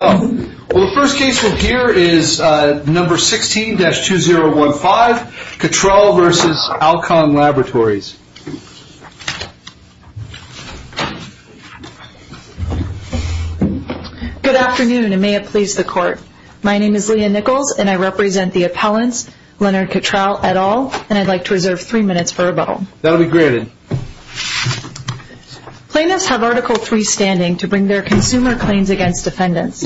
Good afternoon and may it please the court. My name is Leah Nichols and I represent the appellants Leonard Cottrell et al. and I'd like to reserve three minutes for rebuttal. That'll be granted. Plaintiffs have Article 3 standing to bring their consumer claims against defendants.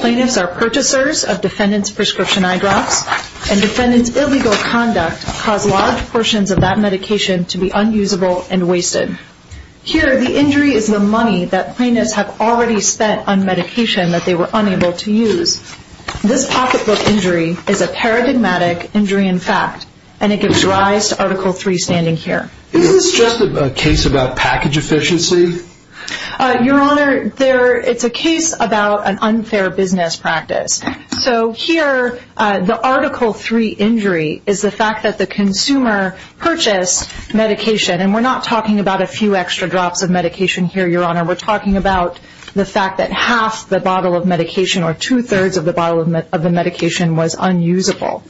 Plaintiffs are purchasers of defendant's prescription eye drops and defendant's illegal conduct cause large portions of that medication to be unusable and wasted. Here the injury is the money that plaintiffs have already spent on medication that they were unable to use. This pocketbook injury is a paradigmatic injury in fact and it gives rise to Article 3 standing here. Is this just a case about package efficiency? Your Honor, it's a case about an unfair business practice. So here the Article 3 injury is the fact that the consumer purchased medication. And we're not talking about a few extra drops of medication here, Your Honor. We're talking about the fact that half the bottle of medication or two-thirds of the bottle of the medication was unusable.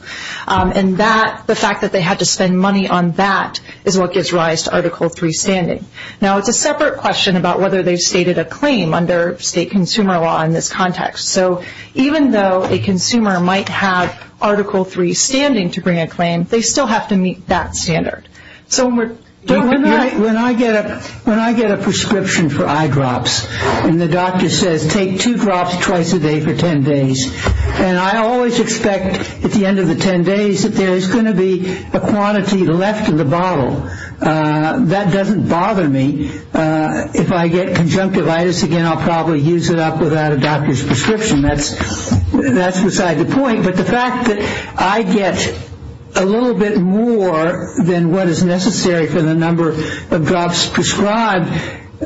And that, the fact that they had to spend money on that is what gives rise to Article 3 standing. Now it's a separate question about whether they've stated a claim under state consumer law in this context. So even though a consumer might have Article 3 standing to bring a claim, they still have to meet that standard. So when we're talking about... When I get a prescription for eye drops and the doctor says take two drops twice a day for 10 days and I always expect at the end of the 10 days that there is going to be a quantity left in the bottle. That doesn't bother me. If I get conjunctivitis again, I'll probably use it up without a doctor's prescription. That's beside the point. But the fact that I get a little bit more than what is necessary for the number of drops prescribed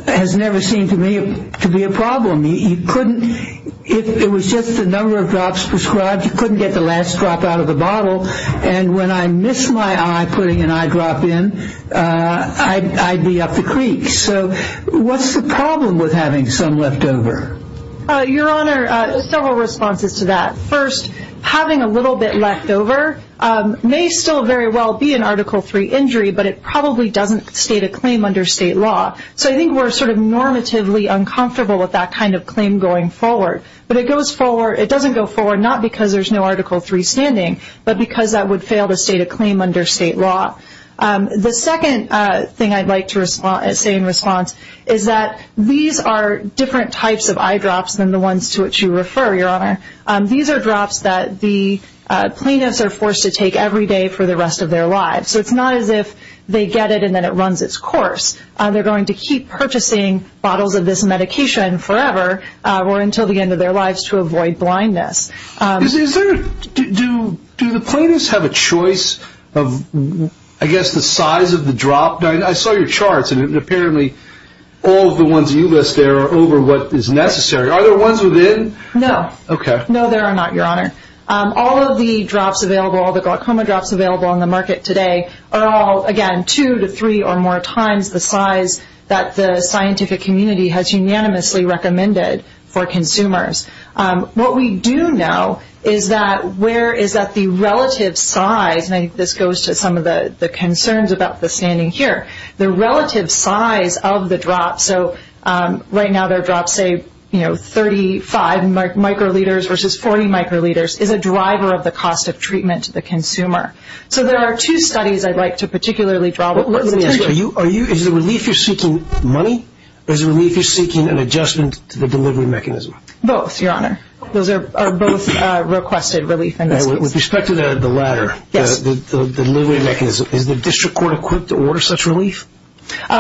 has never seemed to me to be a problem. You couldn't... If it was just the number of drops prescribed, you couldn't get the last drop out of the bottle. And when I miss my eye putting an eye drop in, I'd be up the creek. So what's the problem with having some left over? Your Honor, several responses to that. First, having a little bit left over may still very well be an Article 3 injury, but it probably doesn't state a claim under state law. So I think we're sort of normatively uncomfortable with that kind of claim going forward. But it doesn't go forward not because there's no Article 3 standing, but because that would fail to state a claim under state law. The second thing I'd like to say in response is that these are different types of eye drops than the ones to which you refer, Your Honor. These are drops that the plaintiffs are forced to take every day for the rest of their lives. So it's not as if they get it and then it runs its course. They're going to keep purchasing bottles of this medication forever or until the end of their lives to avoid blindness. Do the plaintiffs have a choice of, I guess, the size of the drop? I saw your charts and apparently all of the ones you list there are over what is necessary. Are there ones within? No. Okay. No, there are not, Your Honor. All of the drops available, all the glaucoma drops available on the market today are all, again, two to three or more times the size that the scientific community has unanimously recommended for consumers. What we do know is that where is that the relative size, and I think this goes to some of the concerns about the standing here, the relative size of the drop. So right now there are drops, say, 35 microliters versus 40 microliters, is a driver of the cost of treatment to the consumer. So there are two studies I'd like to particularly draw attention to. Is the relief you're seeking money or is the relief you're seeking an adjustment to the delivery mechanism? Both, Your Honor. Those are both requested relief. With respect to the latter, the delivery mechanism, is the district court equipped to order such relief?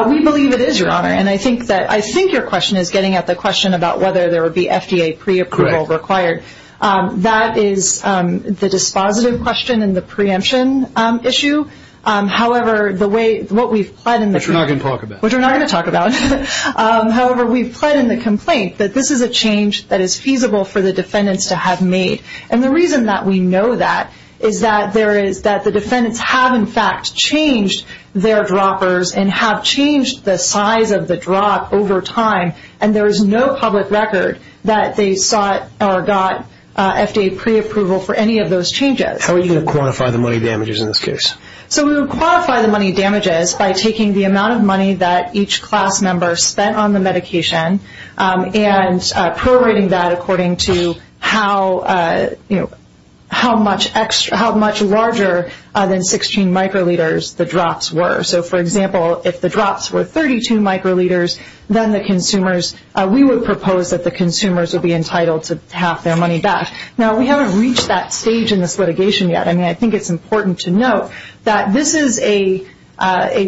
We believe it is, Your Honor, and I think your question is getting at the question about whether there would be FDA preapproval required. That is the dispositive question in the preemption issue. However, what we've pled in the complaint. Which we're not going to talk about. Which we're not going to talk about. However, we've pled in the complaint that this is a change that is feasible for the defendants to have made. And the reason that we know that is that the defendants have, in fact, changed their droppers and have changed the size of the drop over time, and there is no public record that they sought or got FDA preapproval for any of those changes. How are you going to quantify the money damages in this case? So we would quantify the money damages by taking the amount of money that each class member spent on the medication and prorating that according to how much larger than 16 microliters the drops were. So, for example, if the drops were 32 microliters, then we would propose that the consumers would be entitled to half their money back. Now, we haven't reached that stage in this litigation yet. I mean, I think it's important to note that this is a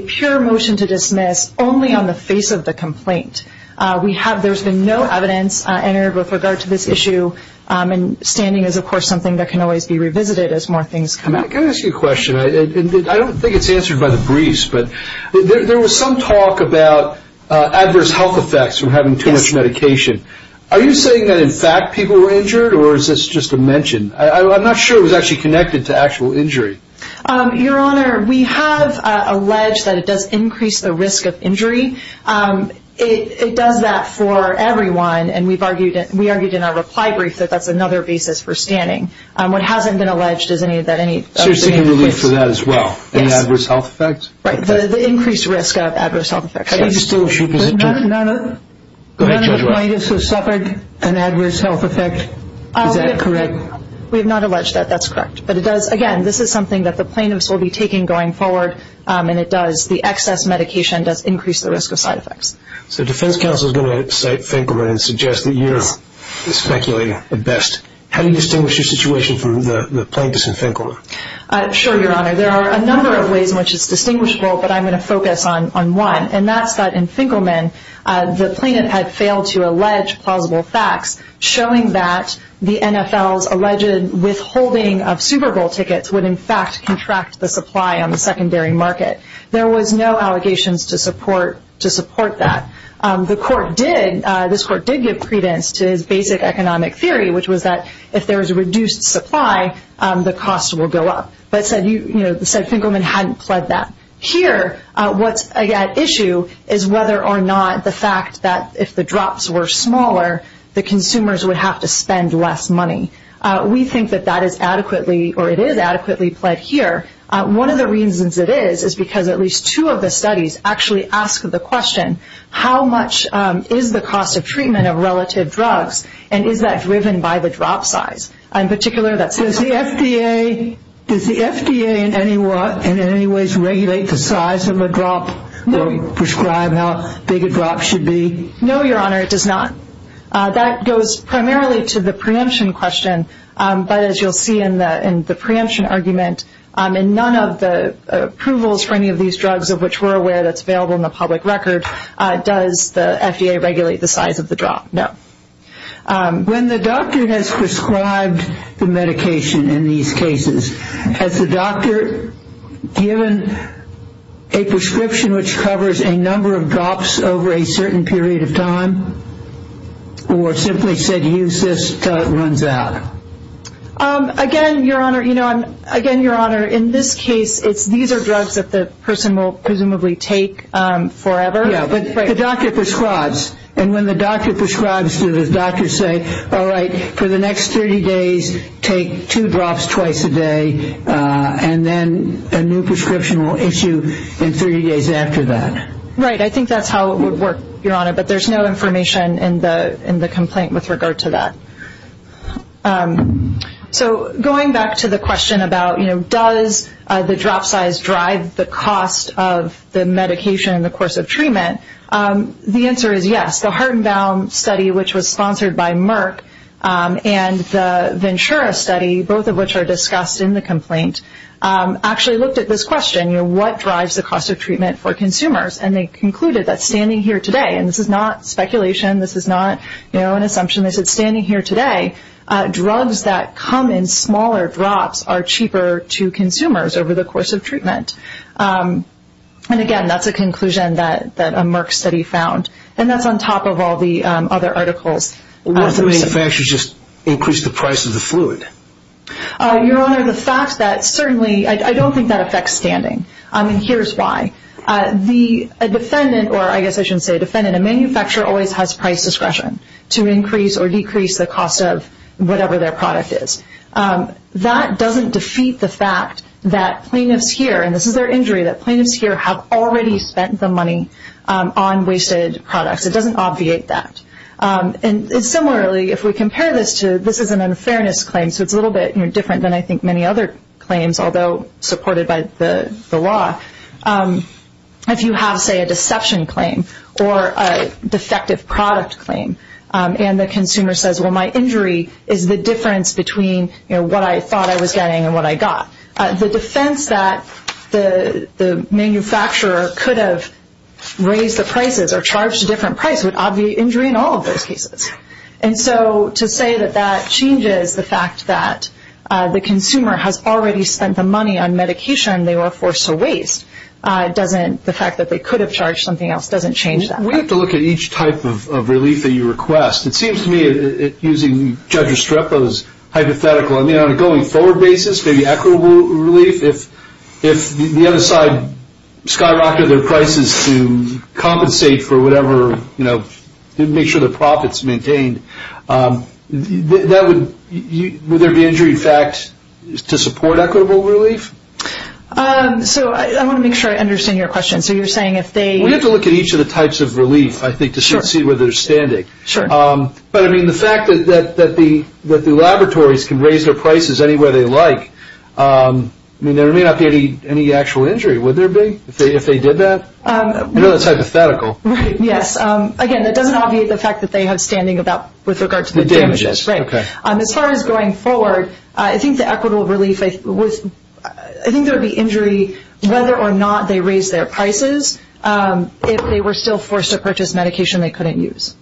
pure motion to dismiss only on the face of the complaint. There's been no evidence entered with regard to this issue, and standing is, of course, something that can always be revisited as more things come out. Can I ask you a question? I don't think it's answered by the briefs, but there was some talk about adverse health effects from having too much medication. Are you saying that, in fact, people were injured, or is this just a mention? I'm not sure it was actually connected to actual injury. Your Honor, we have alleged that it does increase the risk of injury. It does that for everyone, and we argued in our reply brief that that's another basis for standing. What hasn't been alleged is any of that. So you're seeking relief for that as well? Yes. Any adverse health effects? Right. The increased risk of adverse health effects. How do you still assume it's true? None of the plaintiffs have suffered an adverse health effect. Is that correct? We have not alleged that. That's correct. But, again, this is something that the plaintiffs will be taking going forward, and it does. The excess medication does increase the risk of side effects. So defense counsel is going to cite Finkelman and suggest that you're the speculator at best. How do you distinguish your situation from the plaintiffs in Finkelman? Sure, Your Honor. There are a number of ways in which it's distinguishable, but I'm going to focus on one, and that's that in Finkelman the plaintiff had failed to allege plausible facts showing that the NFL's alleged withholding of Super Bowl tickets would, in fact, contract the supply on the secondary market. There was no allegations to support that. The court did, this court did give credence to his basic economic theory, which was that if there was a reduced supply, the cost will go up. But it said Finkelman hadn't pled that. Here, what's at issue is whether or not the fact that if the drops were smaller, the consumers would have to spend less money. We think that that is adequately, or it is adequately pled here. One of the reasons it is is because at least two of the studies actually ask the question, how much is the cost of treatment of relative drugs, and is that driven by the drop size? In particular, that says the FDA, does the FDA in any ways regulate the size of a drop or prescribe how big a drop should be? No, Your Honor, it does not. That goes primarily to the preemption question, but as you'll see in the preemption argument, in none of the approvals for any of these drugs of which we're aware that's available in the public record, does the FDA regulate the size of the drop? No. When the doctor has prescribed the medication in these cases, has the doctor given a prescription which covers a number of drops over a certain period of time or simply said use this until it runs out? Again, Your Honor, in this case, these are drugs that the person will presumably take forever. But the doctor prescribes, and when the doctor prescribes to the doctor, say, all right, for the next 30 days, take two drops twice a day, and then a new prescription will issue in 30 days after that. Right, I think that's how it would work, Your Honor, but there's no information in the complaint with regard to that. So going back to the question about, you know, does the drop size drive the cost of the medication in the course of treatment? The answer is yes. The Hardenbaum study, which was sponsored by Merck, and the Ventura study, both of which are discussed in the complaint, actually looked at this question, you know, what drives the cost of treatment for consumers, and they concluded that standing here today, and this is not speculation, this is not, you know, an assumption, they said standing here today, drugs that come in smaller drops are cheaper to consumers over the course of treatment. And again, that's a conclusion that a Merck study found, and that's on top of all the other articles. What if they actually just increased the price of the fluid? Your Honor, the fact that certainly I don't think that affects standing, and here's why. A defendant, or I guess I shouldn't say defendant, a manufacturer always has price discretion to increase or decrease the cost of whatever their product is. That doesn't defeat the fact that plaintiffs here, and this is their injury, that plaintiffs here have already spent the money on wasted products. It doesn't obviate that. And similarly, if we compare this to, this is an unfairness claim, so it's a little bit different than I think many other claims, although supported by the law. If you have, say, a deception claim or a defective product claim, and the consumer says, well, my injury is the difference between, you know, what I thought I was getting and what I got. The defense that the manufacturer could have raised the prices or charged a different price would obviate injury in all of those cases. And so to say that that changes the fact that the consumer has already spent the money on medication and they were forced to waste doesn't, the fact that they could have charged something else doesn't change that. We have to look at each type of relief that you request. It seems to me, using Judge Estrepo's hypothetical, I mean, on a going forward basis, maybe equitable relief, if the other side skyrocketed their prices to compensate for whatever, you know, to make sure their profit's maintained, would there be injury in fact to support equitable relief? So I want to make sure I understand your question. So you're saying if they... We have to look at each of the types of relief, I think, to see where they're standing. Sure. But, I mean, the fact that the laboratories can raise their prices any way they like, I mean, there may not be any actual injury. Would there be if they did that? I know that's hypothetical. Yes. Again, that doesn't obviate the fact that they have standing with regard to the damages. As far as going forward, I think the equitable relief, I think there would be injury whether or not they raise their prices if they were still forced to purchase medication they couldn't use.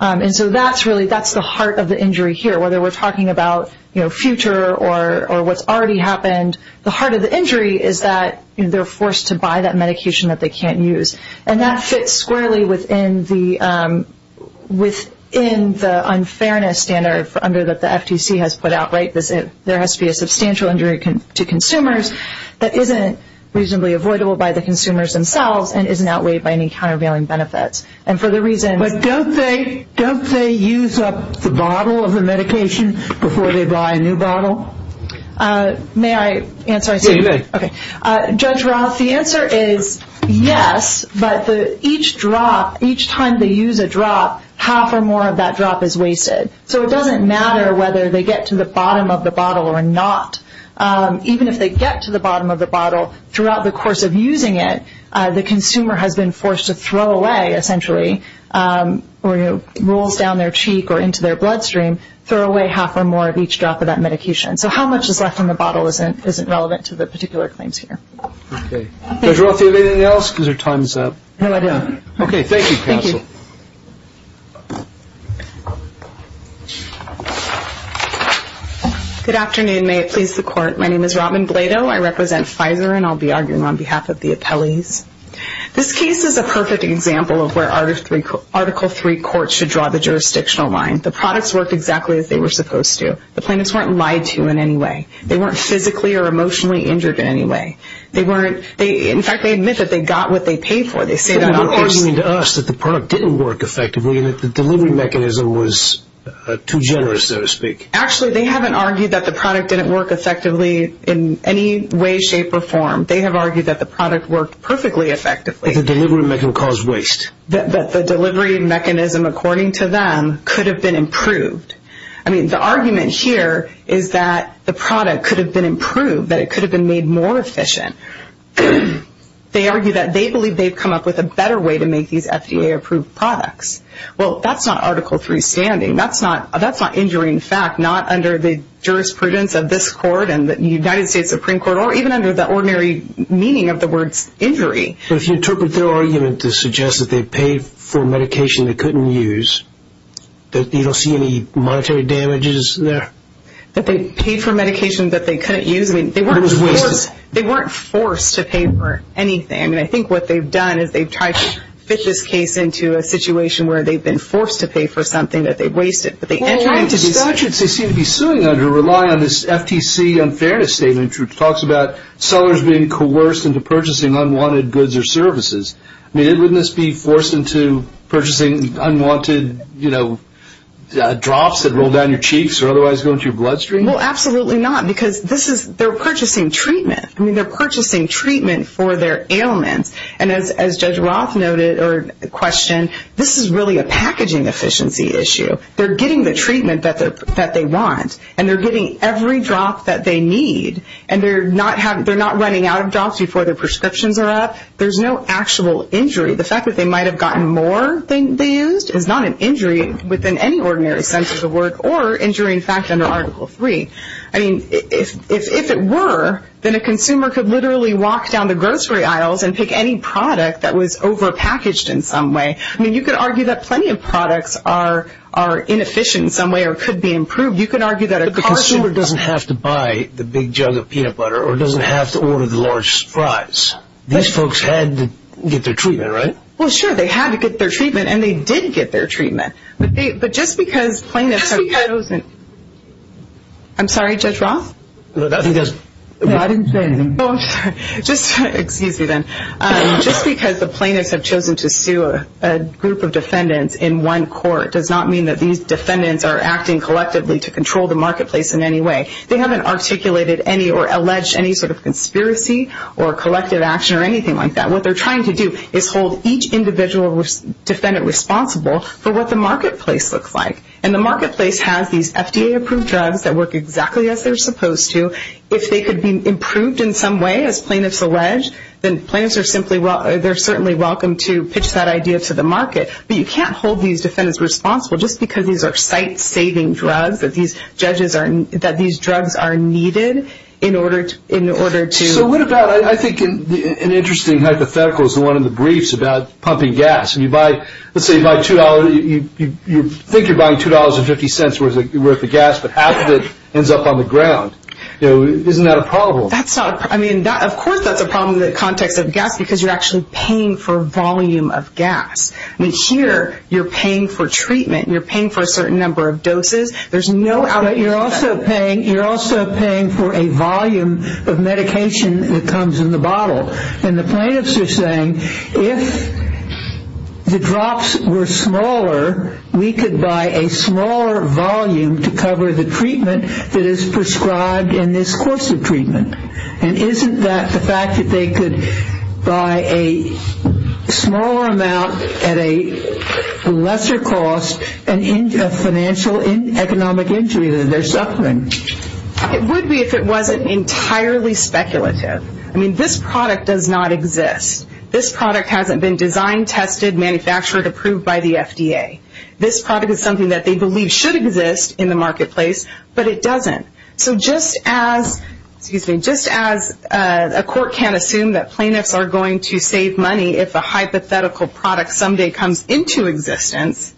And so that's really, that's the heart of the injury here. Whether we're talking about, you know, future or what's already happened, the heart of the injury is that they're forced to buy that medication that they can't use. And that fits squarely within the unfairness standard under that the FTC has put out, right? There has to be a substantial injury to consumers that isn't reasonably avoidable by the consumers themselves and isn't outweighed by any countervailing benefits. And for the reason... But don't they use up the bottle of the medication before they buy a new bottle? May I answer? Yes, you may. Okay. Judge Roth, the answer is yes, but each drop, each time they use a drop, half or more of that drop is wasted. So it doesn't matter whether they get to the bottom of the bottle or not. Even if they get to the bottom of the bottle, throughout the course of using it, the consumer has been forced to throw away, essentially, or rolls down their cheek or into their bloodstream, throw away half or more of each drop of that medication. So how much is left in the bottle isn't relevant to the particular claims here. Okay. Judge Roth, do you have anything else? Because your time is up. No, I don't. Okay. Thank you, counsel. Thank you. Good afternoon. May it please the Court. My name is Robin Blado. I represent Pfizer, and I'll be arguing on behalf of the appellees. This case is a perfect example of where Article III courts should draw the jurisdictional line. The products worked exactly as they were supposed to. The plaintiffs weren't lied to in any way. They weren't physically or emotionally injured in any way. In fact, they admit that they got what they paid for. They say that on purpose. But they're arguing to us that the product didn't work effectively and that the delivery mechanism was too generous, so to speak. Actually, they haven't argued that the product didn't work effectively in any way, shape, or form. They have argued that the product worked perfectly effectively. That the delivery mechanism caused waste. That the delivery mechanism, according to them, could have been improved. I mean, the argument here is that the product could have been improved, that it could have been made more efficient. They argue that they believe they've come up with a better way to make these FDA-approved products. Well, that's not Article III standing. That's not injury in fact, not under the jurisprudence of this court and the United States Supreme Court, or even under the ordinary meaning of the words injury. But if you interpret their argument to suggest that they paid for medication they couldn't use, you don't see any monetary damages there? That they paid for medication that they couldn't use? I mean, they weren't forced to pay for anything. I mean, I think what they've done is they've tried to fit this case into a situation where they've been forced to pay for something that they've wasted. Well, the statutes they seem to be suing under rely on this FTC unfairness statement which talks about sellers being coerced into purchasing unwanted goods or services. I mean, wouldn't this be forced into purchasing unwanted, you know, drops that roll down your cheeks or otherwise go into your bloodstream? Well, absolutely not because they're purchasing treatment. I mean, they're purchasing treatment for their ailments. And as Judge Roth noted or questioned, this is really a packaging efficiency issue. They're getting the treatment that they want and they're getting every drop that they need and they're not running out of drops before their prescriptions are up. There's no actual injury. The fact that they might have gotten more than they used is not an injury within any ordinary sense of the word or injury, in fact, under Article III. I mean, if it were, then a consumer could literally walk down the grocery aisles and pick any product that was overpackaged in some way. I mean, you could argue that plenty of products are inefficient in some way or could be improved. You could argue that a car should be. But the consumer doesn't have to buy the big jug of peanut butter or doesn't have to order the large fries. These folks had to get their treatment, right? Well, sure, they had to get their treatment and they did get their treatment. But just because plaintiffs have chosen to sue a group of defendants in one court does not mean that these defendants are acting collectively to control the marketplace in any way. They haven't articulated any or alleged any sort of conspiracy or collective action or anything like that. What they're trying to do is hold each individual defendant responsible for what the marketplace looks like. And the marketplace has these FDA-approved drugs that work exactly as they're supposed to. If they could be improved in some way, as plaintiffs allege, then plaintiffs are simply welcome to pitch that idea to the market. But you can't hold these defendants responsible just because these are site-saving drugs that these drugs are needed in order to... So what about, I think, an interesting hypothetical is the one in the briefs about pumping gas. Let's say you think you're buying $2.50 worth of gas, but half of it ends up on the ground. Isn't that a problem? Of course that's a problem in the context of gas because you're actually paying for volume of gas. Here, you're paying for treatment. You're paying for a certain number of doses. You're also paying for a volume of medication that comes in the bottle. And the plaintiffs are saying if the drops were smaller, we could buy a smaller volume to cover the treatment that is prescribed in this course of treatment. And isn't that the fact that they could buy a smaller amount at a lesser cost and end a financial and economic injury that they're suffering? It would be if it wasn't entirely speculative. I mean, this product does not exist. This product hasn't been designed, tested, manufactured, approved by the FDA. This product is something that they believe should exist in the marketplace, but it doesn't. So just as a court can't assume that plaintiffs are going to save money if a hypothetical product someday comes into existence,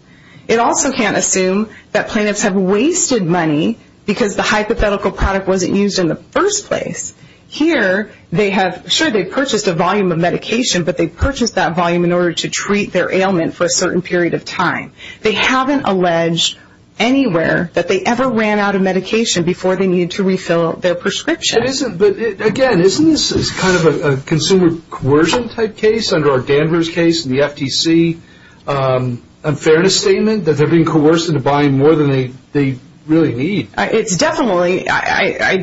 it also can't assume that plaintiffs have wasted money because the hypothetical product wasn't used in the first place. Here, sure, they purchased a volume of medication, but they purchased that volume in order to treat their ailment for a certain period of time. They haven't alleged anywhere that they ever ran out of medication before they needed to refill their prescription. But again, isn't this kind of a consumer coercion type case, under our Danvers case and the FTC unfairness statement, that they're being coerced into buying more than they really need? I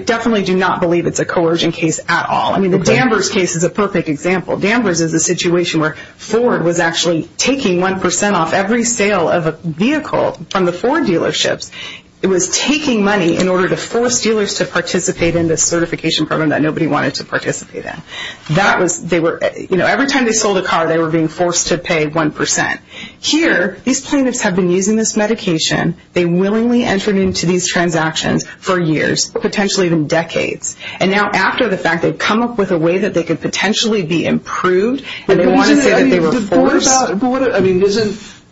definitely do not believe it's a coercion case at all. I mean, the Danvers case is a perfect example. Danvers is a situation where Ford was actually taking 1 percent off every sale of a vehicle from the Ford dealerships. It was taking money in order to force dealers to participate in this certification program that nobody wanted to participate in. Every time they sold a car, they were being forced to pay 1 percent. Here, these plaintiffs have been using this medication. They willingly entered into these transactions for years, potentially even decades. And now after the fact, they've come up with a way that they could potentially be improved, and they want to say that they were forced.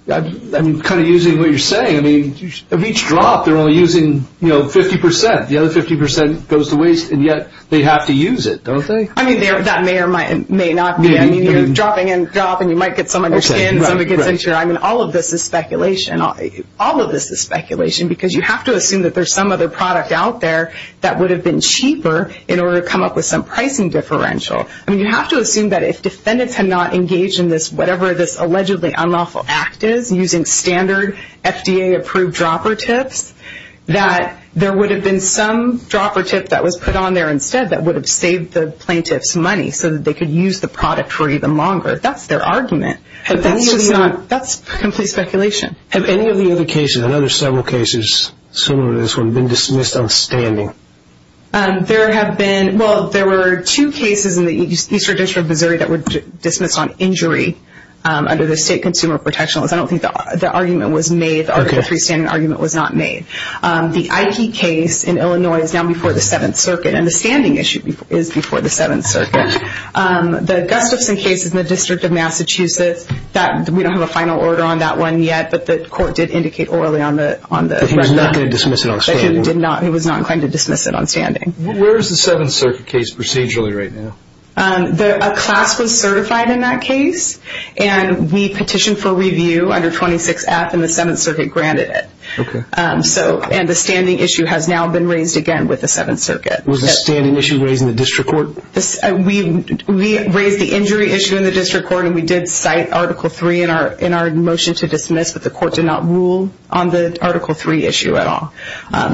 I mean, kind of using what you're saying, I mean, of each drop, they're only using 50 percent. The other 50 percent goes to waste, and yet they have to use it, don't they? I mean, that may or may not be. I mean, you're dropping and dropping. You might get some under your skin. Somebody gets injured. I mean, all of this is speculation. All of this is speculation, because you have to assume that there's some other product out there that would have been cheaper in order to come up with some pricing differential. I mean, you have to assume that if defendants had not engaged in this, whatever this allegedly unlawful act is, using standard FDA-approved dropper tips, that there would have been some dropper tip that was put on there instead that would have saved the plaintiffs money so that they could use the product for even longer. That's their argument. That's just not, that's complete speculation. Have any of the other cases, I know there's several cases similar to this one, been dismissed on standing? There have been, well, there were two cases in the Eastern District of Missouri that were dismissed on injury under the state consumer protection laws. I don't think the argument was made. The Article III standing argument was not made. The Ikey case in Illinois is now before the Seventh Circuit, and the standing issue is before the Seventh Circuit. The Gustafson case is in the District of Massachusetts. We don't have a final order on that one yet, but the court did indicate orally on the record. He was not going to dismiss it on standing. Where is the Seventh Circuit case procedurally right now? A class was certified in that case, and we petitioned for review under 26F, and the Seventh Circuit granted it. Okay. And the standing issue has now been raised again with the Seventh Circuit. Was the standing issue raised in the district court? We raised the injury issue in the district court, and we did cite Article III in our motion to dismiss, but the court did not rule on the Article III issue at all.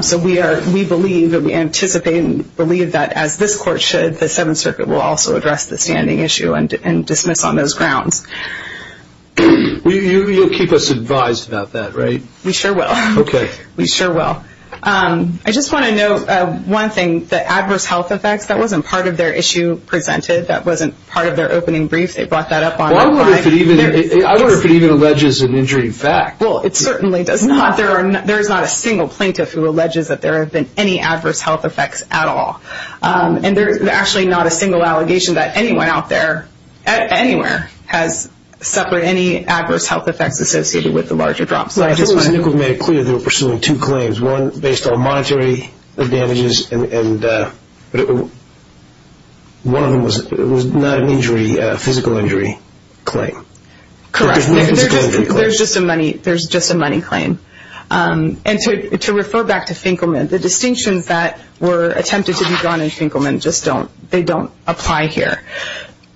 So we believe and we anticipate and believe that, as this court should, the Seventh Circuit will also address the standing issue and dismiss on those grounds. You'll keep us advised about that, right? We sure will. Okay. We sure will. I just want to note one thing. The adverse health effects, that wasn't part of their issue presented. That wasn't part of their opening brief. They brought that up on our client. I wonder if it even alleges an injury in fact. Well, it certainly does not. There is not a single plaintiff who alleges that there have been any adverse health effects at all. And there is actually not a single allegation that anyone out there, anywhere, has suffered any adverse health effects associated with the larger drops. I think it was made clear they were pursuing two claims, one based on monetary damages, and one of them was not an injury, a physical injury claim. Correct. There's just a money claim. And to refer back to Finkelman, the distinctions that were attempted to be drawn in Finkelman just don't apply here.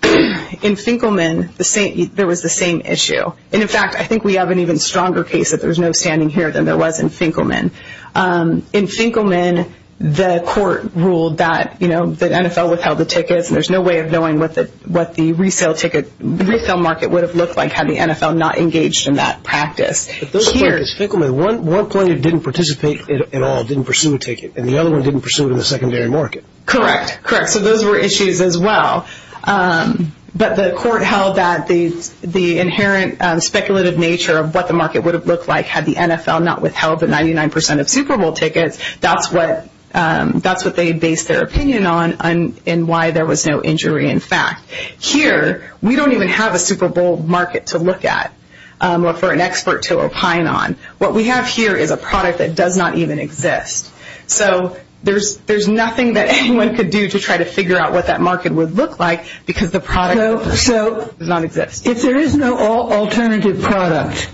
In Finkelman, there was the same issue. And, in fact, I think we have an even stronger case that there was no standing here than there was in Finkelman. In Finkelman, the court ruled that the NFL withheld the tickets and there's no way of knowing what the resale ticket, what the resale market would have looked like had the NFL not engaged in that practice. At those places, Finkelman, one plaintiff didn't participate at all, didn't pursue a ticket, and the other one didn't pursue it in the secondary market. Correct. Correct. So those were issues as well. But the court held that the inherent speculative nature of what the market would have looked like had the NFL not withheld the 99% of Super Bowl tickets, that's what they based their opinion on and why there was no injury in fact. Here, we don't even have a Super Bowl market to look at or for an expert to opine on. What we have here is a product that does not even exist. So there's nothing that anyone could do to try to figure out what that market would look like because the product does not exist. If there is no alternative product,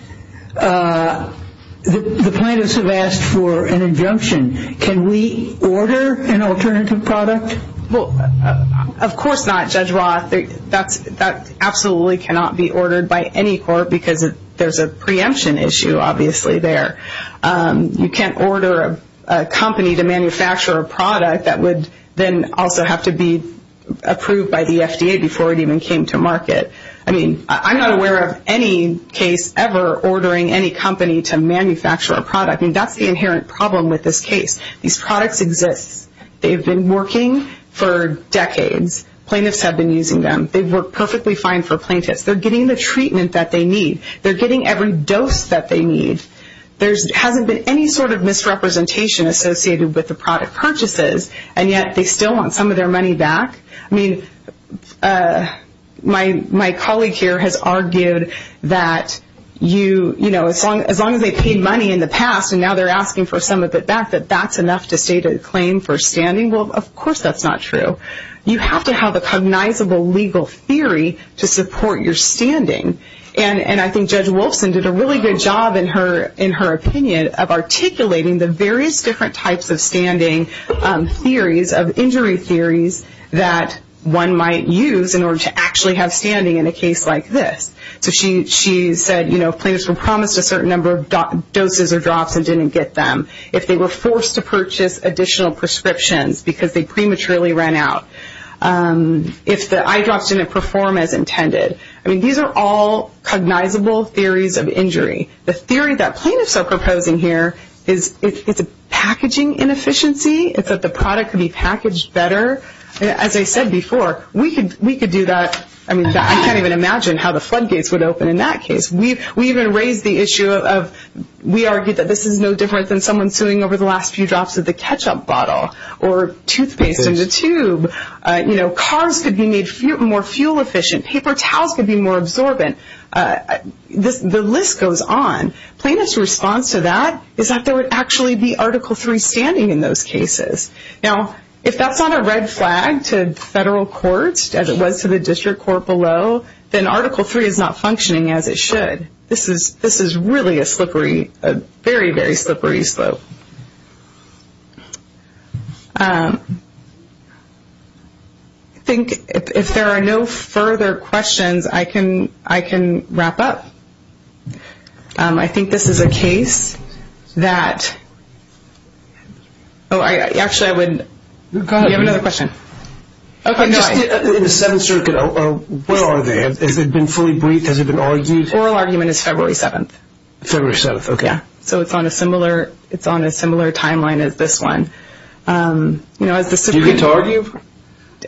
the plaintiffs have asked for an injunction. Can we order an alternative product? Of course not, Judge Roth. That absolutely cannot be ordered by any court because there's a preemption issue obviously there. You can't order a company to manufacture a product that would then also have to be approved by the FDA before it even came to market. I mean, I'm not aware of any case ever ordering any company to manufacture a product. I mean, that's the inherent problem with this case. These products exist. They've been working for decades. Plaintiffs have been using them. They work perfectly fine for plaintiffs. They're getting the treatment that they need. They're getting every dose that they need. There hasn't been any sort of misrepresentation associated with the product purchases, and yet they still want some of their money back. I mean, my colleague here has argued that as long as they paid money in the past and now they're asking for some of it back, that that's enough to state a claim for standing. Well, of course that's not true. You have to have a cognizable legal theory to support your standing, and I think Judge Wolfson did a really good job in her opinion of articulating the various different types of standing theories of injury theories that one might use in order to actually have standing in a case like this. So she said, you know, if plaintiffs were promised a certain number of doses or drops and didn't get them, if they were forced to purchase additional prescriptions because they prematurely ran out, if the eye drops didn't perform as intended. I mean, these are all cognizable theories of injury. The theory that plaintiffs are proposing here is it's a packaging inefficiency. It's that the product could be packaged better. As I said before, we could do that. I mean, I can't even imagine how the floodgates would open in that case. We even raised the issue of we argued that this is no different than someone suing over the last few drops of the ketchup bottle or toothpaste in the tube. You know, cars could be made more fuel efficient. Paper towels could be more absorbent. The list goes on. Plaintiffs' response to that is that there would actually be Article III standing in those cases. Now, if that's not a red flag to federal courts, as it was to the district court below, then Article III is not functioning as it should. This is really a slippery, a very, very slippery slope. I think if there are no further questions, I can wrap up. I think this is a case that – oh, actually, I would – you have another question. Okay, go ahead. In the Seventh Circuit, where are they? Has it been fully briefed? Has it been argued? Oral argument is February 7th. February 7th, okay. Yeah, so it's on a similar timeline as this one. You know, as the Supreme Court – Do you get to argue?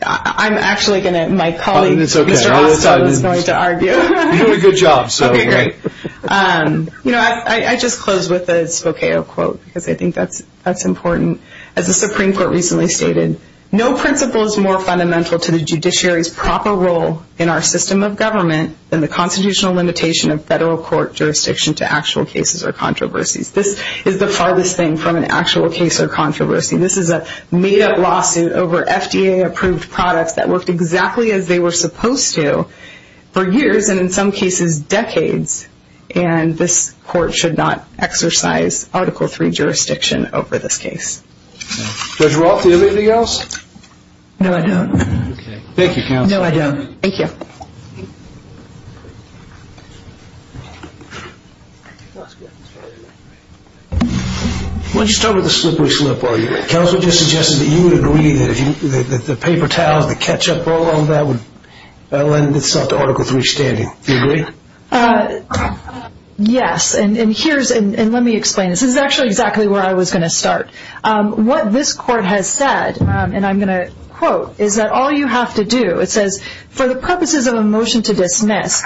I'm actually going to – my colleague, Mr. Oswald, is going to argue. You're doing a good job, so – Okay, great. You know, I just closed with a Spokane quote because I think that's important. As the Supreme Court recently stated, no principle is more fundamental to the judiciary's proper role in our system of government than the constitutional limitation of federal court jurisdiction to actual cases or controversies. This is the farthest thing from an actual case or controversy. This is a made-up lawsuit over FDA-approved products that worked exactly as they were supposed to for years, and in some cases decades, and this court should not exercise Article III jurisdiction over this case. Judge Roth, do you have anything else? No, I don't. Thank you, counsel. No, I don't. Thank you. Why don't you start with the slippery slip? Counsel just suggested that you would agree that the paper towels, the ketchup all on that would lend itself to Article III standing. Do you agree? Yes, and here's – and let me explain. This is actually exactly where I was going to start. What this court has said, and I'm going to quote, is that all you have to do – it says, for the purposes of a motion to dismiss,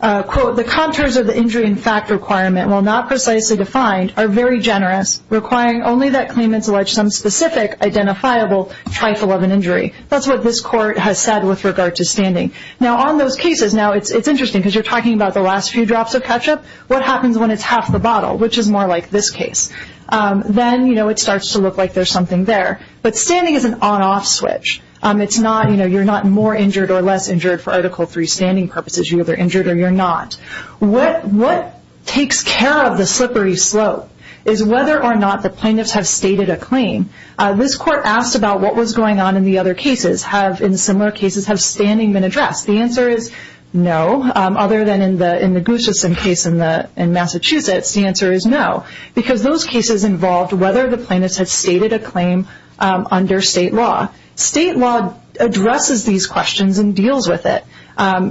quote, the contours of the injury in fact requirement, while not precisely defined, are very generous, requiring only that claimants allege some specific identifiable trifle of an injury. That's what this court has said with regard to standing. Now on those cases, now it's interesting because you're talking about the last few drops of ketchup. What happens when it's half the bottle, which is more like this case? Then, you know, it starts to look like there's something there. But standing is an on-off switch. It's not, you know, you're not more injured or less injured for Article III standing purposes. You're either injured or you're not. What takes care of the slippery slope is whether or not the plaintiffs have stated a claim. This court asked about what was going on in the other cases. Have, in similar cases, have standing been addressed? The answer is no, other than in the Gustafson case in Massachusetts, the answer is no, because those cases involved whether the plaintiffs had stated a claim under state law. State law addresses these questions and deals with it.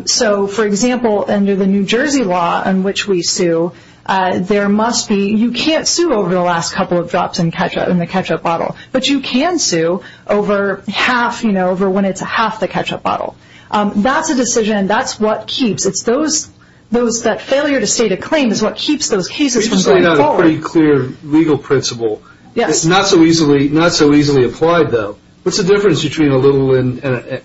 So, for example, under the New Jersey law in which we sue, there must be, you can't sue over the last couple of drops in the ketchup bottle, but you can sue over half, you know, over when it's half the ketchup bottle. That's a decision and that's what keeps, it's those, that failure to state a claim is what keeps those cases from going forward. You've laid out a pretty clear legal principle. Yes. It's not so easily applied, though. What's the difference between a little and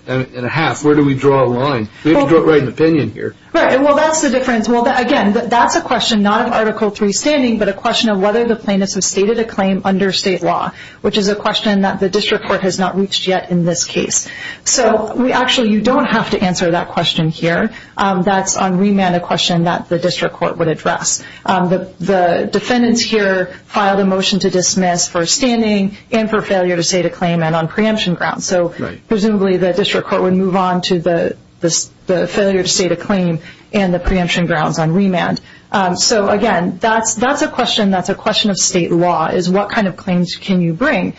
a half? Where do we draw a line? We have to draw it right in opinion here. Right. Well, that's the difference. Well, again, that's a question not of Article III standing, but a question of whether the plaintiffs have stated a claim under state law, which is a question that the district court has not reached yet in this case. So we actually, you don't have to answer that question here. That's on remand a question that the district court would address. The defendants here filed a motion to dismiss for standing and for failure to state a claim and on preemption grounds. So presumably the district court would move on to the failure to state a claim and the preemption grounds on remand. So, again, that's a question, that's a question of state law, is what kind of claims can you bring,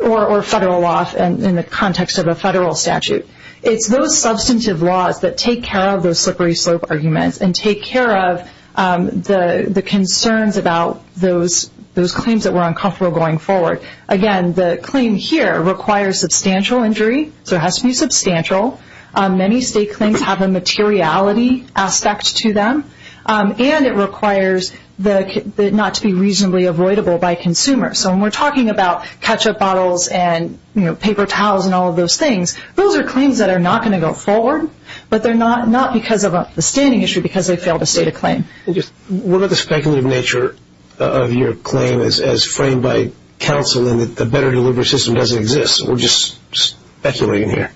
or federal law in the context of a federal statute. It's those substantive laws that take care of those slippery slope arguments and take care of the concerns about those claims that were uncomfortable going forward. Again, the claim here requires substantial injury, so it has to be substantial. Many state claims have a materiality aspect to them, and it requires not to be reasonably avoidable by consumers. So when we're talking about ketchup bottles and paper towels and all of those things, those are claims that are not going to go forward, but they're not because of a standing issue because they failed to state a claim. What are the speculative nature of your claim as framed by counsel in that the better delivery system doesn't exist? We're just speculating here.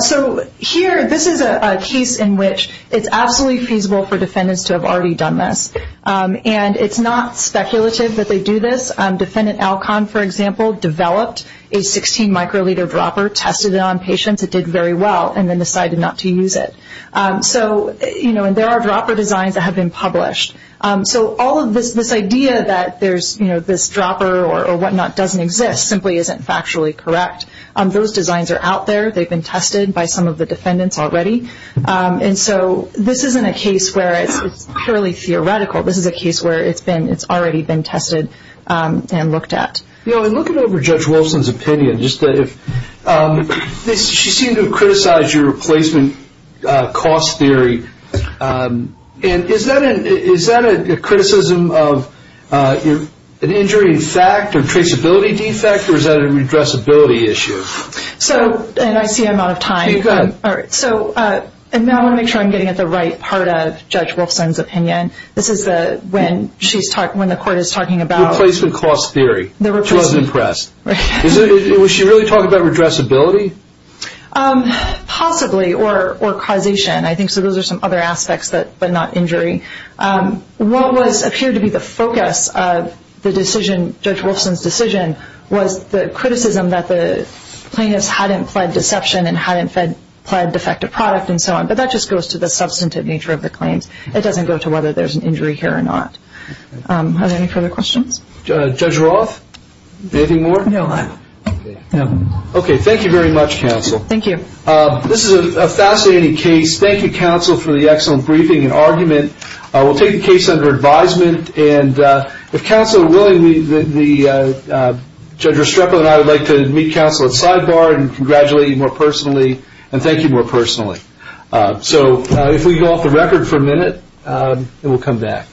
So here, this is a case in which it's absolutely feasible for defendants to have already done this, and it's not speculative that they do this. Defendant Alcon, for example, developed a 16-microliter dropper, tested it on patients, it did very well, and then decided not to use it. And there are dropper designs that have been published. So all of this idea that this dropper or whatnot doesn't exist simply isn't factually correct. Those designs are out there. They've been tested by some of the defendants already. And so this isn't a case where it's purely theoretical. This is a case where it's already been tested and looked at. You know, in looking over Judge Wolfson's opinion, she seemed to have criticized your replacement cost theory. And is that a criticism of an injury in fact or traceability defect, or is that a redressability issue? I see I'm out of time. I want to make sure I'm getting at the right part of Judge Wolfson's opinion. This is when the court is talking about the replacement cost theory. She wasn't impressed. Was she really talking about redressability? Possibly, or causation. I think those are some other aspects, but not injury. What appeared to be the focus of Judge Wolfson's decision was the criticism that the plaintiffs hadn't pled deception and hadn't pled defective product and so on. But that just goes to the substantive nature of the claims. It doesn't go to whether there's an injury here or not. Are there any further questions? Judge Roth? Anything more? No. Okay. Thank you very much, counsel. Thank you. This is a fascinating case. Thank you, counsel, for the excellent briefing and argument. We'll take the case under advisement. And if counsel are willing, Judge Restrepo and I would like to meet counsel at Sidebar and congratulate you more personally and thank you more personally. So if we go off the record for a minute, and we'll come back.